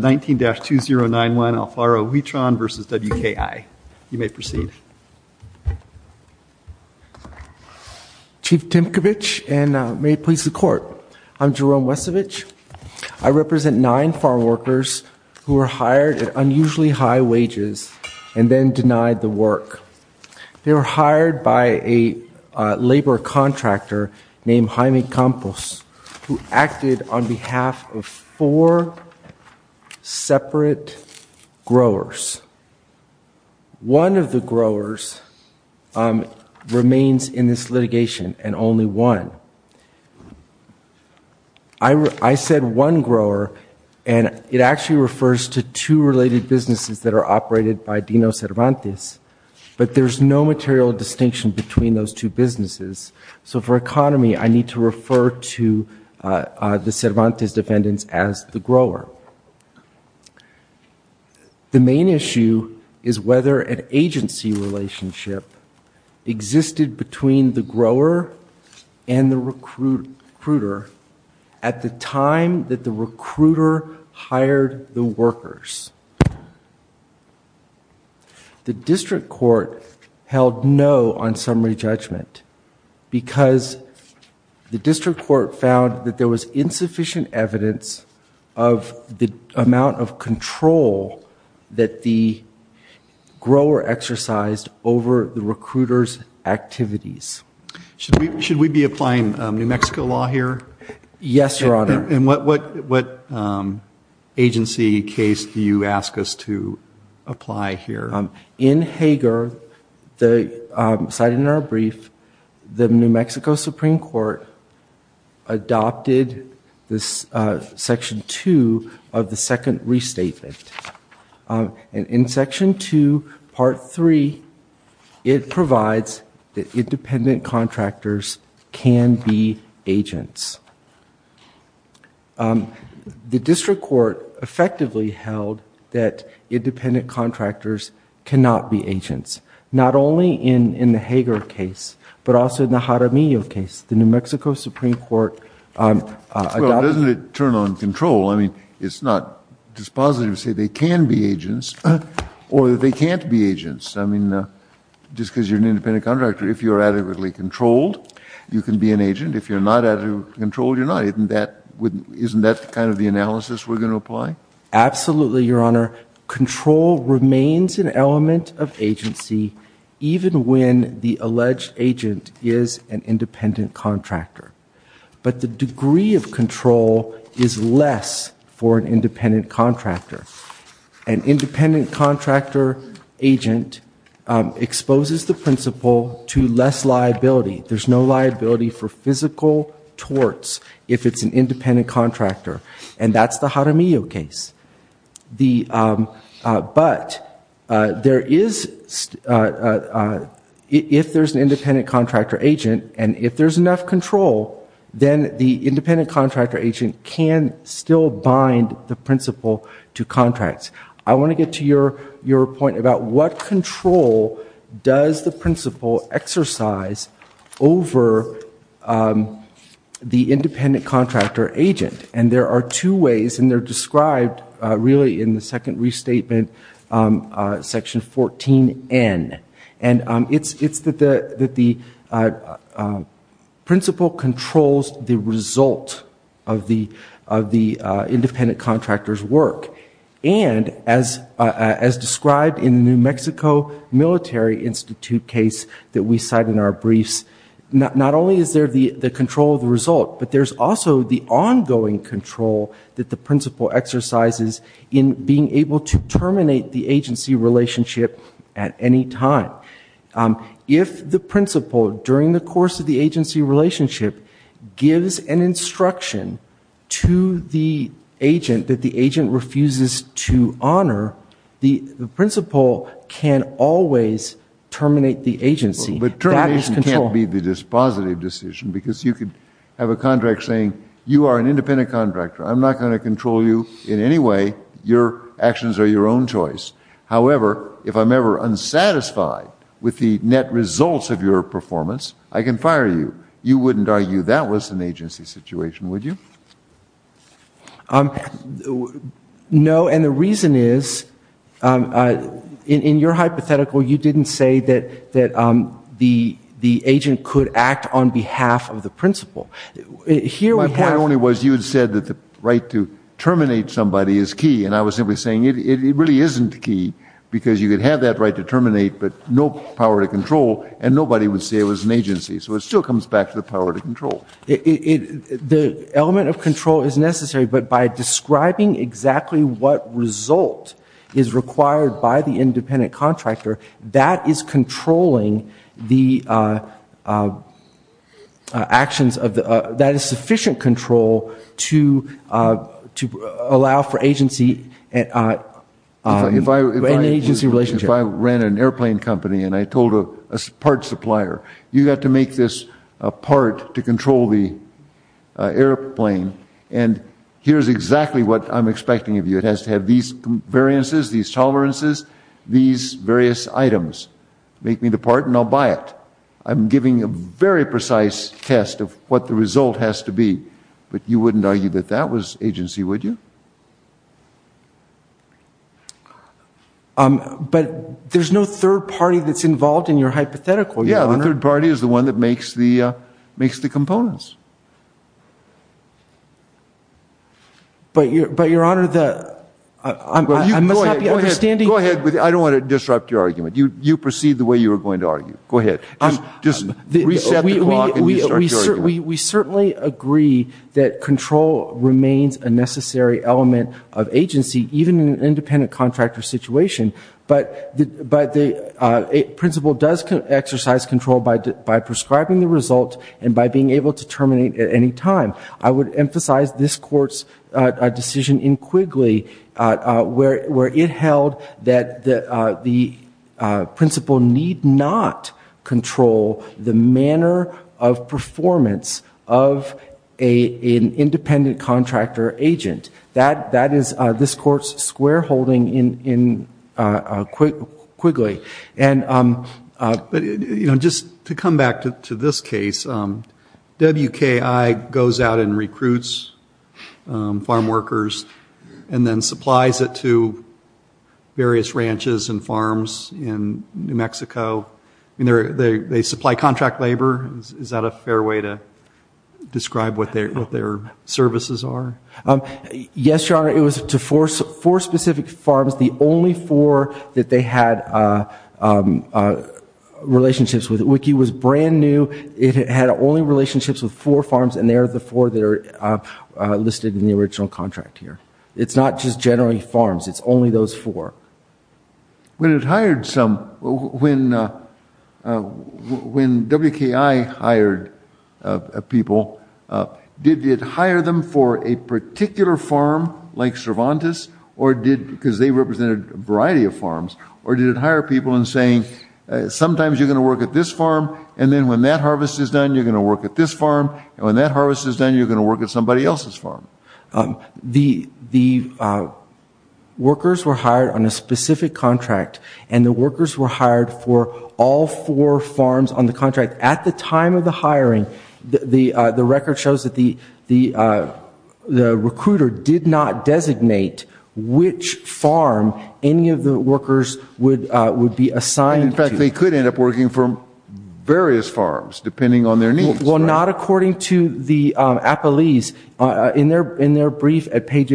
19-2091 Alfaro-Huitron v. WKI. You may proceed. Chief Timcovich, and may it please the court, I'm Jerome Wesovich. I represent nine farm workers who were hired at unusually high wages and then denied the work. They were hired by a labor contractor named Jaime Campos, who acted on behalf of four separate growers. One of the growers remains in this litigation, and only one. I said one grower, and it actually refers to two related businesses that are operated by Dino Cervantes. But there's no material distinction between those two businesses. So for economy, I need to refer to the Cervantes defendants as the grower. The main issue is whether an agency relationship existed between the grower and the recruiter at the time that the recruiter hired the workers. The district court held no on summary judgment because the district court found that there was insufficient evidence of the amount of control that the grower exercised over the recruiter's activities. Should we be applying New Mexico law here? Yes, Your Honor. And what agency case do you ask us to apply here? In Hager, cited in our brief, the New Mexico Supreme Court adopted this section two of the second restatement. In section two, part three, it provides that independent contractors can be agents. The district court effectively held that independent contractors cannot be agents, not only in the Hager case, but also in the Jaramillo case. The New Mexico Supreme Court adopted... Well, doesn't it turn on control? I mean, it's not dispositive to say they can be agents or that they can't be agents. I mean, just because you're an independent contractor, if you're adequately controlled, you can be an agent. If you're not adequately controlled, you're not. Isn't that kind of the analysis we're going to apply? Absolutely, Your Honor. Control remains an element of agency even when the alleged agent is an independent contractor. But the degree of control is less for an independent contractor. An independent contractor agent exposes the principle to less liability. There's no liability for physical torts if it's an independent contractor, and that's the Jaramillo case. But if there's an independent contractor agent and if there's enough control, then the independent contractor agent can still bind the principle to contracts. I want to get to your point about what control does the principle exercise over the independent contractor agent. And there are two ways, and they're described really in the second restatement, Section 14N. And it's that the principle controls the result of the independent contractor's work. And as described in the New Mexico Military Institute case that we cite in our briefs, not only is there the control of the result, but there's also the ongoing control that the principle exercises in being able to terminate the agency relationship at any time. If the principle, during the course of the agency relationship, gives an instruction to the agent that the agent refuses to honor, the principle can always terminate the agency. But termination can't be the dispositive decision because you could have a contract saying, you are an independent contractor, I'm not going to control you in any way. Your actions are your own choice. However, if I'm ever unsatisfied with the net results of your performance, I can fire you. You wouldn't argue that was an agency situation, would you? No, and the reason is, in your hypothetical, you didn't say that the agent could act on behalf of the principle. My point only was you had said that the right to terminate somebody is key, and I was simply saying it really isn't key, because you could have that right to terminate, but no power to control, and nobody would say it was an agency. So it still comes back to the power to control. The element of control is necessary, but by describing exactly what result is required by the independent contractor, that is controlling the actions of the, that is sufficient control to allow for agency and agency relationship. If I ran an airplane company and I told a parts supplier, you've got to make this part to control the airplane, and here's exactly what I'm expecting of you. It has to have these variances, these tolerances, these various items. Make me the part, and I'll buy it. I'm giving a very precise test of what the result has to be, but you wouldn't argue that that was agency, would you? Yeah, the third party is the one that makes the components. But, Your Honor, I must not be understanding. Go ahead. I don't want to disrupt your argument. You proceed the way you were going to argue. Go ahead. Just reset the clock and start your argument. We certainly agree that control remains a necessary element of agency, even in an independent contractor situation, but the principal does exercise control by prescribing the result and by being able to terminate at any time. I would emphasize this Court's decision in Quigley where it held that the principal need not control the manner of performance of an independent contractor agent. That is this Court's square holding in Quigley. And just to come back to this case, WKI goes out and recruits farm workers and then supplies it to various ranches and farms in New Mexico. They supply contract labor. Is that a fair way to describe what their services are? Yes, Your Honor, it was to four specific farms. The only four that they had relationships with. WKI was brand new. It had only relationships with four farms, and they are the four that are listed in the original contract here. It's not just generally farms. It's only those four. When it hired some, when WKI hired people, did it hire them for a particular farm like Cervantes or did, because they represented a variety of farms, or did it hire people in saying sometimes you're going to work at this farm and then when that harvest is done, you're going to work at this farm and when that harvest is done, you're going to work at somebody else's farm? The workers were hired on a specific contract and the workers were hired for all four farms on the contract. At the time of the hiring, the record shows that the recruiter did not designate which farm any of the workers would be assigned to. In fact, they could end up working for various farms, depending on their needs. Well, not according to the appellees. In their brief at page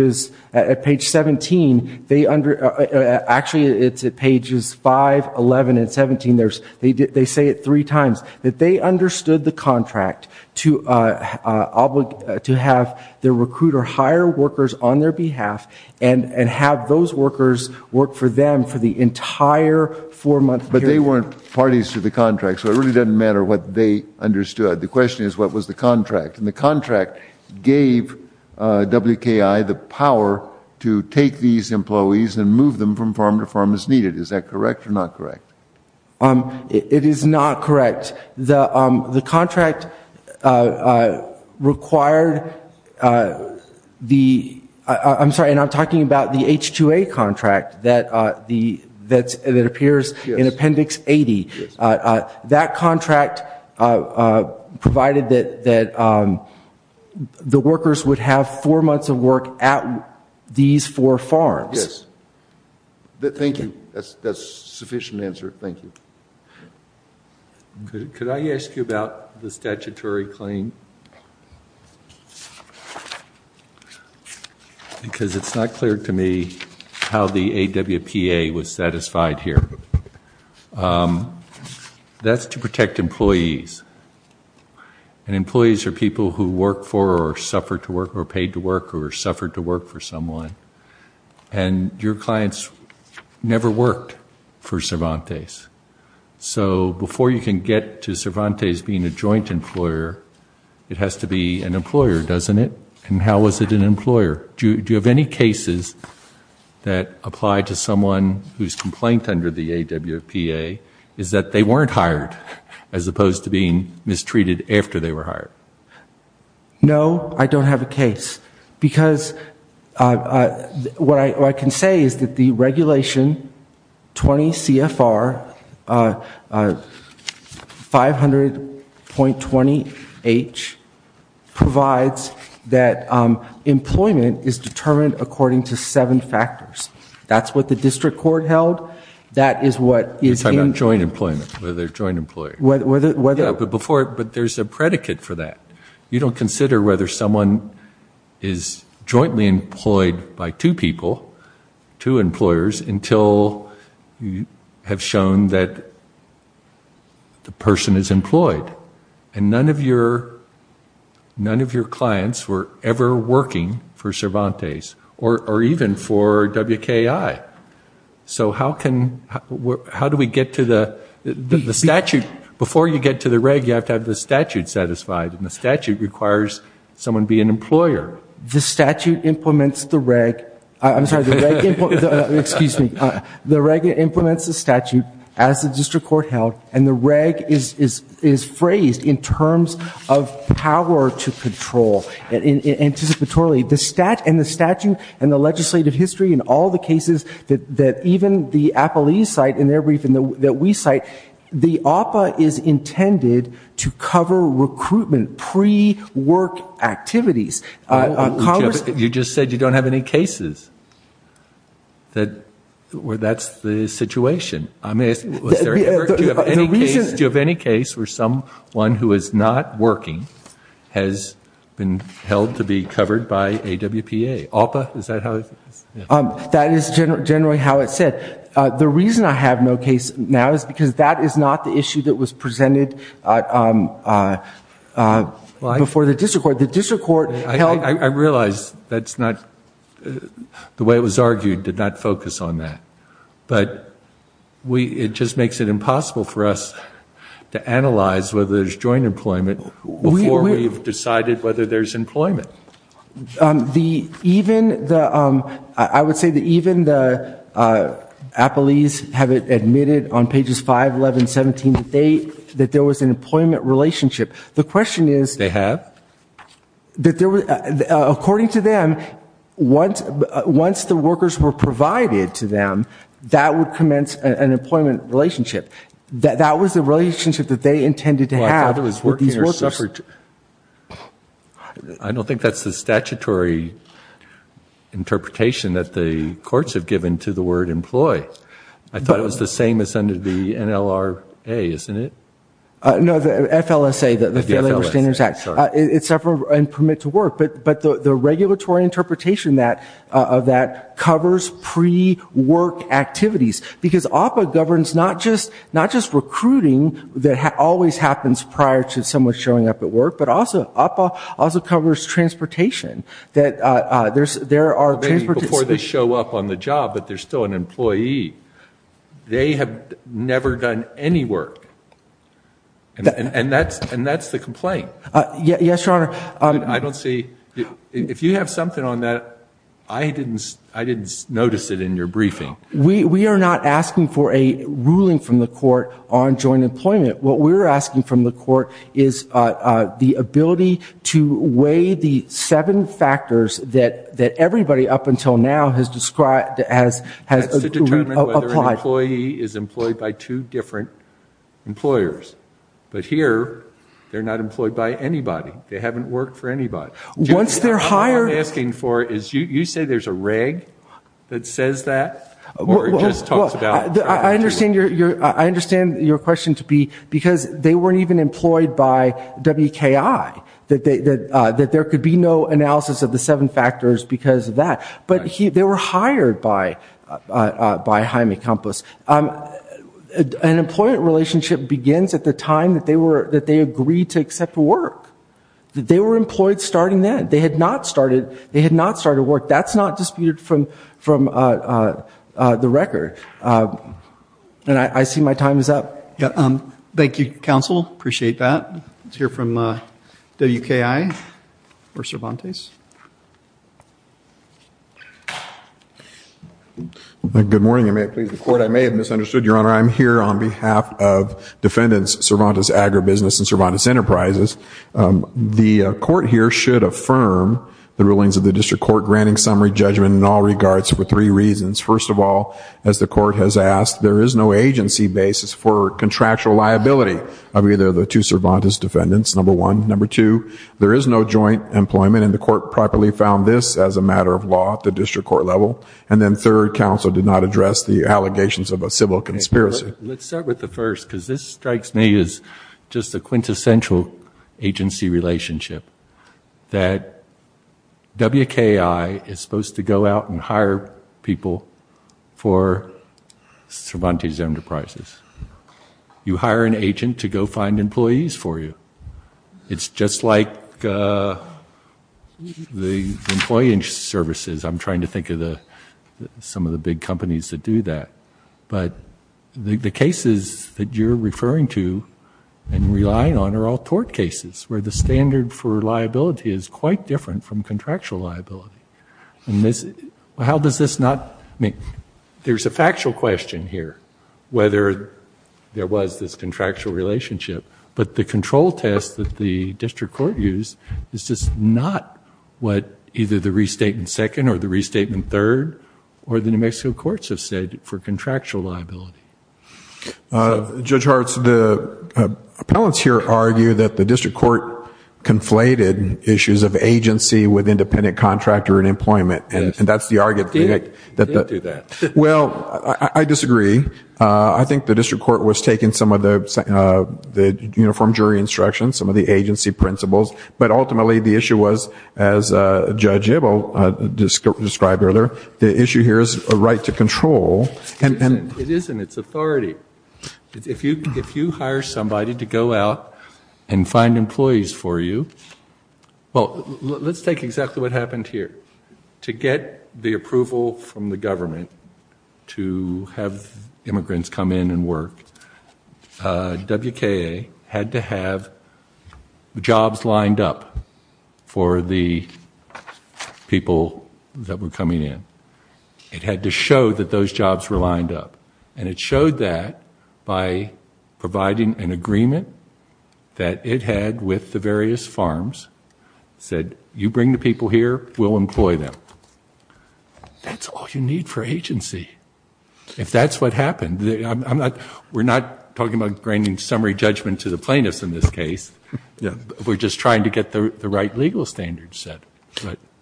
17, actually it's at pages 5, 11, and 17, they say it three times, that they understood the contract to have their recruiter hire workers on their behalf and have those workers work for them for the entire four-month period. But they weren't parties to the contract, so it really doesn't matter what they understood. The question is, what was the contract? And the contract gave WKI the power to take these employees and move them from farm to farm as needed. Is that correct or not correct? It is not correct. The contract required the... I'm sorry, and I'm talking about the H-2A contract that appears in Appendix 80. That contract provided that the workers would have four months of work at these four farms. Yes. Thank you. That's a sufficient answer. Thank you. Could I ask you about the statutory claim? Because it's not clear to me how the AWPA was satisfied here. That's to protect employees. And employees are people who work for or suffered to work or paid to work or suffered to work for someone. And your clients never worked for Cervantes. So before you can get to Cervantes being a joint employer, it has to be an employer, doesn't it? And how is it an employer? Do you have any cases that apply to someone whose complaint under the AWPA is that they weren't hired as opposed to being mistreated after they were hired? No, I don't have a case. Because what I can say is that the Regulation 20 CFR 500.20H provides that employment is determined according to seven factors. That's what the district court held. That is what is in- You're talking about joint employment, whether they're joint employees. Whether- Yeah, but there's a predicate for that. You don't consider whether someone is jointly employed by two people, two employers, until you have shown that the person is employed. And none of your clients were ever working for Cervantes or even for WKI. So how do we get to the statute? Before you get to the Reg, you have to have the statute satisfied. And the statute requires someone to be an employer. The statute implements the Reg. I'm sorry, the Reg implements- Excuse me. The Reg implements the statute as the district court held. And the Reg is phrased in terms of power to control. Anticipatorily. And the statute and the legislative history and all the cases that even the appellees cite in their brief and that we cite, the APA is intended to cover recruitment, pre-work activities. You just said you don't have any cases. That's the situation. Do you have any case where someone who is not working has been held to be covered by AWPA? APA, is that how it's- That is generally how it's set. The reason I have no case now is because that is not the issue that was presented before the district court. The district court held- I realize that's not- the way it was argued did not focus on that. But it just makes it impossible for us to analyze whether there's joint employment before we've decided whether there's employment. The- even the- I would say that even the appellees have admitted on pages 5, 11, 17, that there was an employment relationship. The question is- They have? That there was- according to them, once the workers were provided to them, that would commence an employment relationship. That was the relationship that they intended to have with these workers. I don't think that's the statutory interpretation that the courts have given to the word employ. I thought it was the same as under the NLRA, isn't it? No, the FLSA, the Failing Labor Standards Act. It's separate and permit to work. But the regulatory interpretation of that covers pre-work activities. Because AWPA governs not just recruiting, that always happens prior to someone showing up at work, but also AWPA also covers transportation. That there's- there are- Maybe before they show up on the job, but they're still an employee. They have never done any work. And that's- and that's the complaint. Yes, Your Honor. I don't see- if you have something on that, I didn't- I didn't notice it in your briefing. We- we are not asking for a ruling from the court on joint employment. What we're asking from the court is the ability to weigh the seven factors that- that everybody up until now has described as- has- Has to determine whether an employee is employed by two different employers. But here, they're not employed by anybody. They haven't worked for anybody. Once they're hired- You say there's a reg that says that? Or it just talks about- I understand your- I understand your question to be- because they weren't even employed by WKI. That they- that there could be no analysis of the seven factors because of that. But they were hired by- by Jaime Campos. An employment relationship begins at the time that they were- that they agreed to accept work. They were employed starting then. They had not started- they had not started work. That's not disputed from- from the record. And I see my time is up. Thank you, counsel. Appreciate that. Let's hear from WKI or Cervantes. Good morning. May I please- the court, I may have misunderstood, your honor. I'm here on behalf of defendants Cervantes Agribusiness and Cervantes Enterprises. The court here should affirm the rulings of the district court, granting summary judgment in all regards for three reasons. First of all, as the court has asked, there is no agency basis for contractual liability of either of the two Cervantes defendants, number one. Number two, there is no joint employment. And the court properly found this as a matter of law at the district court level. And then third, counsel did not address the allegations of a civil conspiracy. Let's start with the first because this strikes me as just a quintessential agency relationship that WKI is supposed to go out and hire people for Cervantes Enterprises. You hire an agent to go find employees for you. It's just like the employee services. I'm trying to think of the- some of the big companies that do that. But the cases that you're referring to and relying on are all tort cases where the standard for liability is quite different from contractual liability. And this- how does this not- I mean, there's a factual question here whether there was this contractual relationship. But the control test that the district court used is just not what either the restatement second or the restatement third or the New Mexico courts have stated for contractual liability. Judge Hartz, the appellants here argue that the district court conflated issues of agency with independent contractor and employment. And that's the argument- I didn't do that. Well, I disagree. I think the district court was taking some of the uniform jury instructions, some of the agency principles. But ultimately the issue was, as Judge Ibble described earlier, the issue here is a right to control. It isn't. It's authority. If you hire somebody to go out and find employees for you- well, let's take exactly what happened here. To get the approval from the government to have immigrants come in and work, WKA had to have jobs lined up for the people that were coming in. It had to show that those jobs were lined up. And it showed that by providing an agreement that it had with the various farms, said, you bring the people here, we'll employ them. That's all you need for agency. If that's what happened, we're not talking about bringing summary judgment to the plaintiffs in this case. We're just trying to get the right legal standards set.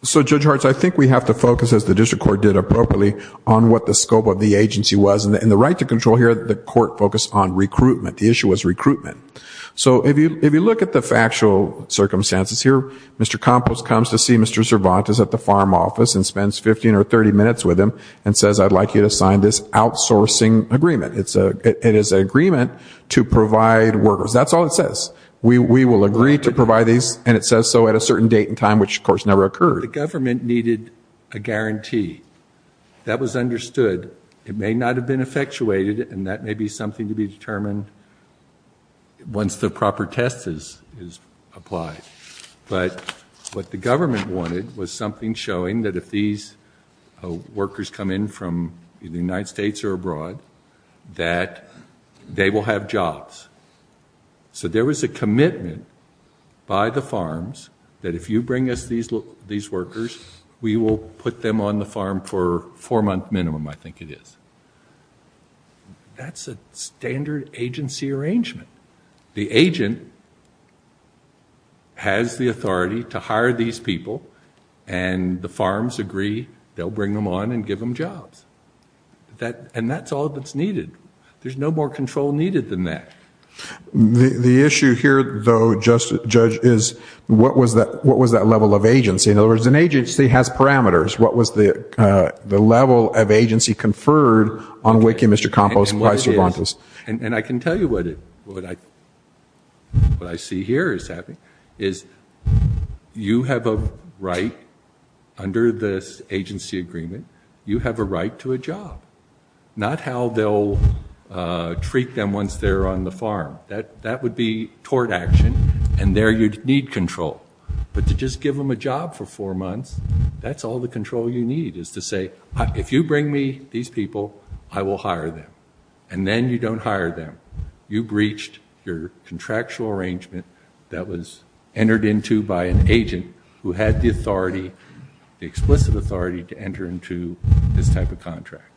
So, Judge Hartz, I think we have to focus, as the district court did appropriately, on what the scope of the agency was. And the right to control here, the court focused on recruitment. The issue was recruitment. So if you look at the factual circumstances here, Mr. Campos comes to see Mr. Cervantes at the farm office and spends 15 or 30 minutes with him and says, I'd like you to sign this outsourcing agreement. It is an agreement to provide workers. That's all it says. We will agree to provide these. And it says so at a certain date and time, which, of course, never occurred. The government needed a guarantee. That was understood. It may not have been effectuated, and that may be something to be determined once the proper test is applied. But what the government wanted was something showing that if these workers come in from the United States or abroad, that they will have jobs. So there was a commitment by the farms that if you bring us these workers, we will put them on the farm for a four-month minimum, I think it is. That's a standard agency arrangement. The agent has the authority to hire these people, and the farms agree they'll bring them on and give them jobs. And that's all that's needed. There's no more control needed than that. The issue here, though, Judge, is what was that level of agency? In other words, an agency has parameters. What was the level of agency conferred on WICU, Mr. Campos, and by Cervantes? And I can tell you what I see here is happening, is you have a right under this agency agreement, you have a right to a job, not how they'll treat them once they're on the farm. That would be tort action, and there you'd need control. But to just give them a job for four months, that's all the control you need, is to say, if you bring me these people, I will hire them. And then you don't hire them. You breached your contractual arrangement that was entered into by an agent who had the authority, the explicit authority, to enter into this type of contract.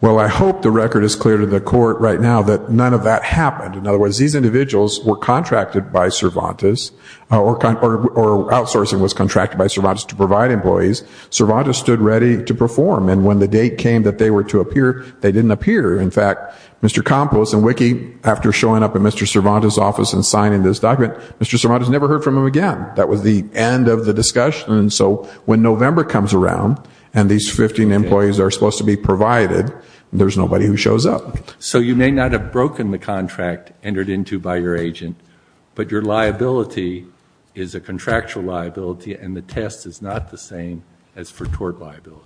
Well, I hope the record is clear to the Court right now that none of that happened. In other words, these individuals were contracted by Cervantes, or outsourcing was contracted by Cervantes to provide employees. Cervantes stood ready to perform, and when the date came that they were to appear, they didn't appear. In fact, Mr. Campos and Wiki, after showing up at Mr. Cervantes' office and signing this document, Mr. Cervantes never heard from him again. That was the end of the discussion. And so when November comes around and these 15 employees are supposed to be provided, there's nobody who shows up. So you may not have broken the contract entered into by your agent, but your liability is a contractual liability, and the test is not the same as for tort liability.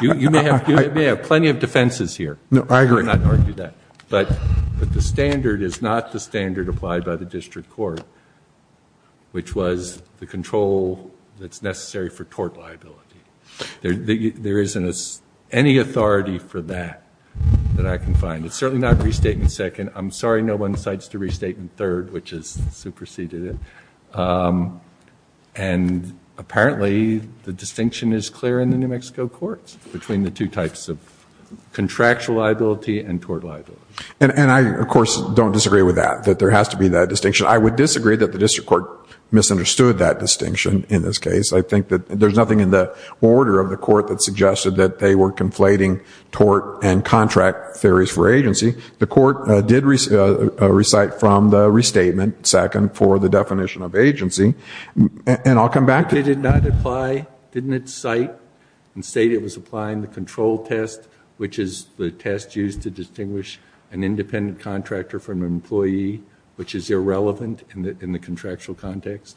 You may have plenty of defenses here. No, I agree. I'm not going to argue that. But the standard is not the standard applied by the District Court, which was the control that's necessary for tort liability. There isn't any authority for that that I can find. It's certainly not Restatement Second. I'm sorry no one cites the Restatement Third, which has superseded it. And apparently the distinction is clear in the New Mexico courts between the two types of contractual liability and tort liability. And I, of course, don't disagree with that, that there has to be that distinction. I would disagree that the District Court misunderstood that distinction in this case. I think that there's nothing in the order of the court that suggested that they were conflating tort and contract theories for agency. The court did recite from the Restatement Second for the definition of agency. And I'll come back to it. Did it not apply? Didn't it cite and state it was applying the control test, which is the test used to distinguish an independent contractor from an employee, which is irrelevant in the contractual context?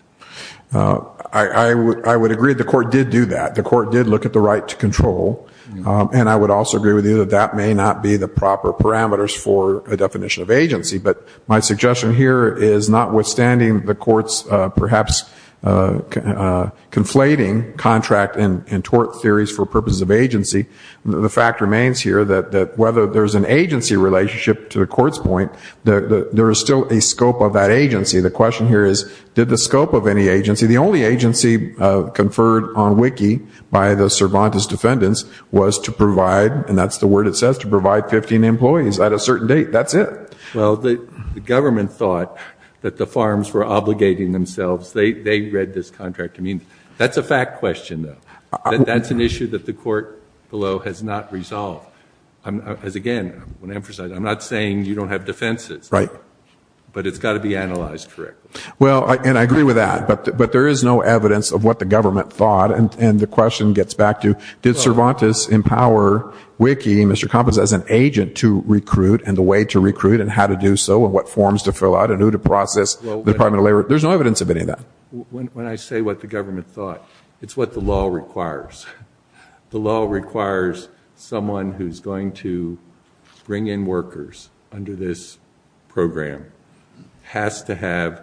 I would agree the court did do that. The court did look at the right to control. And I would also agree with you that that may not be the proper parameters for a definition of agency. But my suggestion here is notwithstanding the court's perhaps conflating contract and tort theories for purposes of agency, the fact remains here that whether there's an agency relationship to the court's point, there is still a scope of that agency. The question here is, did the scope of any agency? The only agency conferred on wiki by the Cervantes defendants was to provide, and that's the word it says, to provide 15 employees at a certain date. That's it. Well, the government thought that the farms were obligating themselves. They read this contract. That's a fact question, though. That's an issue that the court below has not resolved. Again, I want to emphasize, I'm not saying you don't have defenses. Right. But it's got to be analyzed correctly. Well, and I agree with that. But there is no evidence of what the government thought, and the question gets back to, did Cervantes empower wiki, Mr. Compens, as an agent to recruit and the way to recruit and how to do so and what forms to fill out and who to process the Department of Labor? There's no evidence of any of that. When I say what the government thought, it's what the law requires. The law requires someone who's going to bring in workers under this program has to have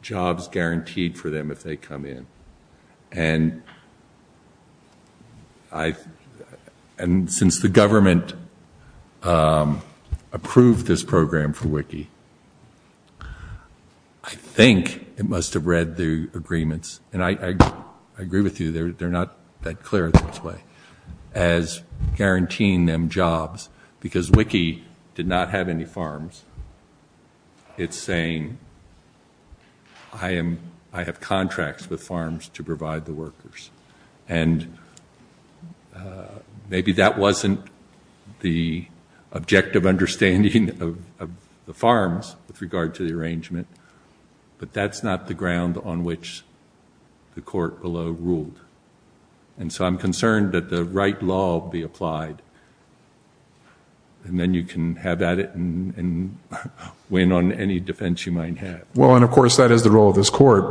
jobs guaranteed for them if they come in. And since the government approved this program for wiki, I think it must have read the agreements, and I agree with you, they're not that clear this way, as guaranteeing them jobs, because wiki did not have any farms. It's saying I have contracts with farms to provide the workers. And maybe that wasn't the objective understanding of the farms with regard to the arrangement, but that's not the ground on which the court below ruled. And so I'm concerned that the right law be applied, and then you can have at it and win on any defense you might have. Well, and, of course, that is the role of this court.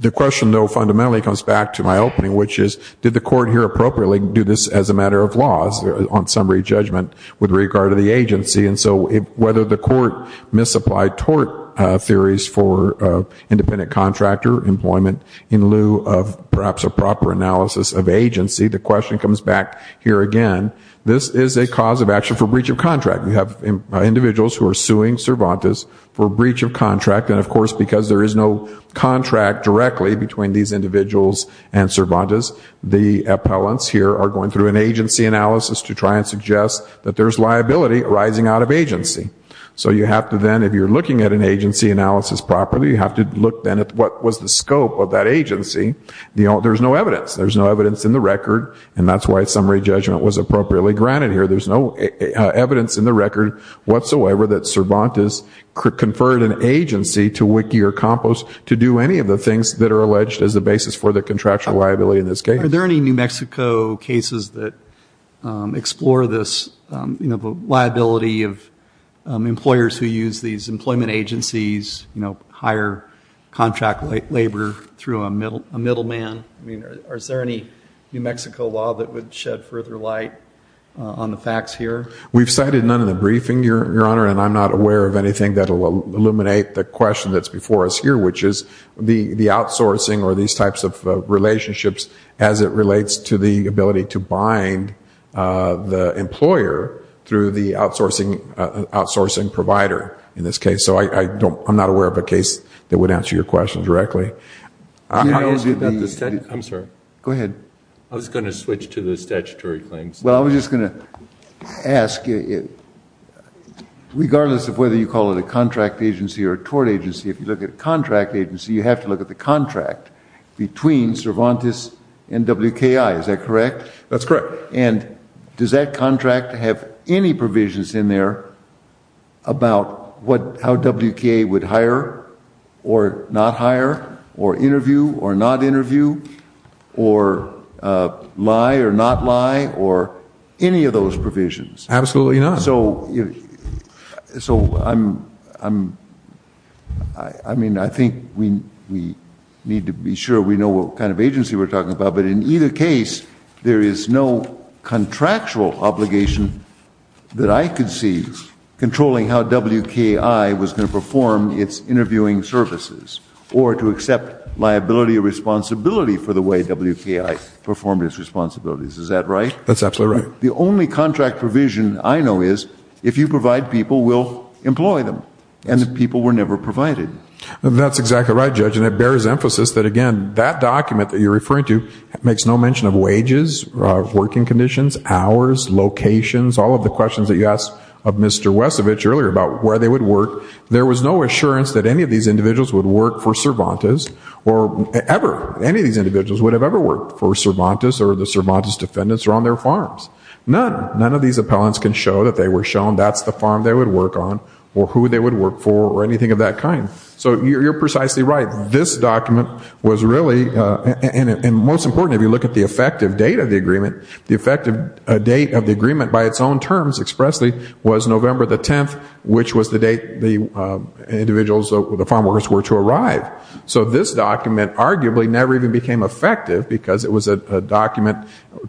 The question, though, fundamentally comes back to my opening, which is did the court here appropriately do this as a matter of laws, on summary judgment, with regard to the agency? And so whether the court misapplied tort theories for independent contractor employment in lieu of perhaps a proper analysis of agency, the question comes back here again. This is a cause of action for breach of contract. We have individuals who are suing Cervantes for breach of contract, and, of course, because there is no contract directly between these individuals and Cervantes, the appellants here are going through an agency analysis to try and suggest that there's liability arising out of agency. So you have to then, if you're looking at an agency analysis properly, you have to look then at what was the scope of that agency. There's no evidence. There's no evidence in the record, and that's why summary judgment was appropriately granted here. There's no evidence in the record whatsoever that Cervantes conferred an agency to WICI or COMPOS to do any of the things that are alleged as the basis for the contractual liability in this case. Are there any New Mexico cases that explore this liability of employers who use these employment agencies, you know, hire contract labor through a middleman? I mean, is there any New Mexico law that would shed further light on the facts here? We've cited none in the briefing, Your Honor, and I'm not aware of anything that will illuminate the question that's before us here, which is the outsourcing or these types of relationships as it relates to the ability to bind the employer through the outsourcing provider in this case. So I'm not aware of a case that would answer your question directly. I'm sorry. Go ahead. I was going to switch to the statutory claims. Well, I was just going to ask, regardless of whether you call it a contract agency or a tort agency, if you look at a contract agency, you have to look at the contract between Cervantes and WKI. Is that correct? That's correct. And does that contract have any provisions in there about how WKI would hire or not hire or interview or not interview or lie or not lie or any of those provisions? Absolutely not. So, I mean, I think we need to be sure we know what kind of agency we're talking about. But in either case, there is no contractual obligation that I could see controlling how WKI was going to perform its interviewing services or to accept liability or responsibility for the way WKI performed its responsibilities. Is that right? That's absolutely right. The only contract provision I know is if you provide people, we'll employ them. And the people were never provided. That's exactly right, Judge. And it bears emphasis that, again, that document that you're referring to makes no mention of wages, working conditions, hours, locations, all of the questions that you asked of Mr. Wesovich earlier about where they would work. There was no assurance that any of these individuals would work for Cervantes or ever. Any of these individuals would have ever worked for Cervantes or the Cervantes defendants or on their farms. None. None of these appellants can show that they were shown that's the farm they would work on or who they would work for or anything of that kind. So you're precisely right. This document was really, and most importantly, if you look at the effective date of the agreement, the effective date of the agreement by its own terms expressly was November the 10th, which was the date the individuals, the farm workers, were to arrive. So this document arguably never even became effective because it was a document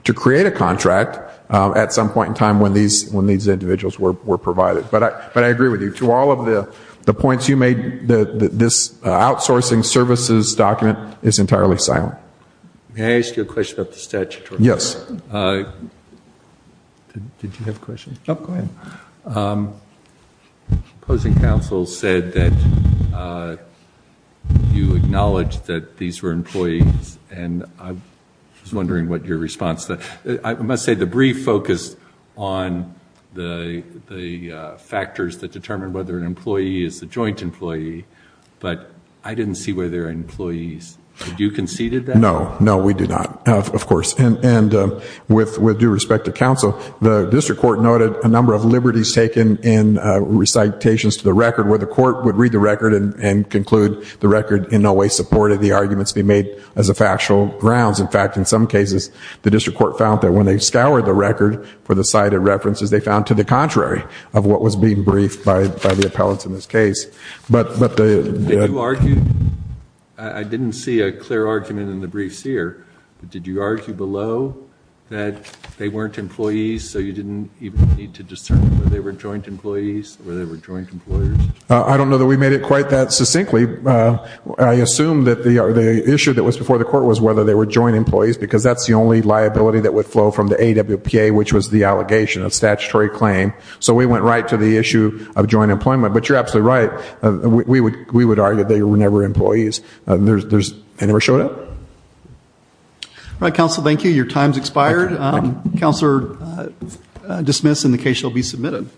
to create a contract at some point in time when these individuals were provided. But I agree with you. To all of the points you made, this outsourcing services document is entirely silent. May I ask you a question about the statutory? Yes. Did you have a question? No, go ahead. Opposing counsel said that you acknowledged that these were employees, and I was wondering what your response was. I must say the brief focused on the factors that determine whether an employee is a joint employee, but I didn't see whether they were employees. Did you conceded that? No. No, we did not, of course. And with due respect to counsel, the district court noted a number of liberties taken in recitations to the record where the court would read the record and conclude the record in no way supported the arguments being made as a factual grounds. In fact, in some cases, the district court found that when they scoured the record for the cited references, they found to the contrary of what was being briefed by the appellants in this case. Did you argue? I didn't see a clear argument in the briefs here, but did you argue below that they weren't employees so you didn't even need to discern whether they were joint employees, whether they were joint employers? I don't know that we made it quite that succinctly. I assume that the issue that was before the court was whether they were joint employees because that's the only liability that would flow from the AWPA, which was the allegation of statutory claim. So we went right to the issue of joint employment. But you're absolutely right. We would argue that they were never employees. Any more to show? All right, counsel. Thank you. Your time's expired. Counselor, dismiss and the case shall be submitted.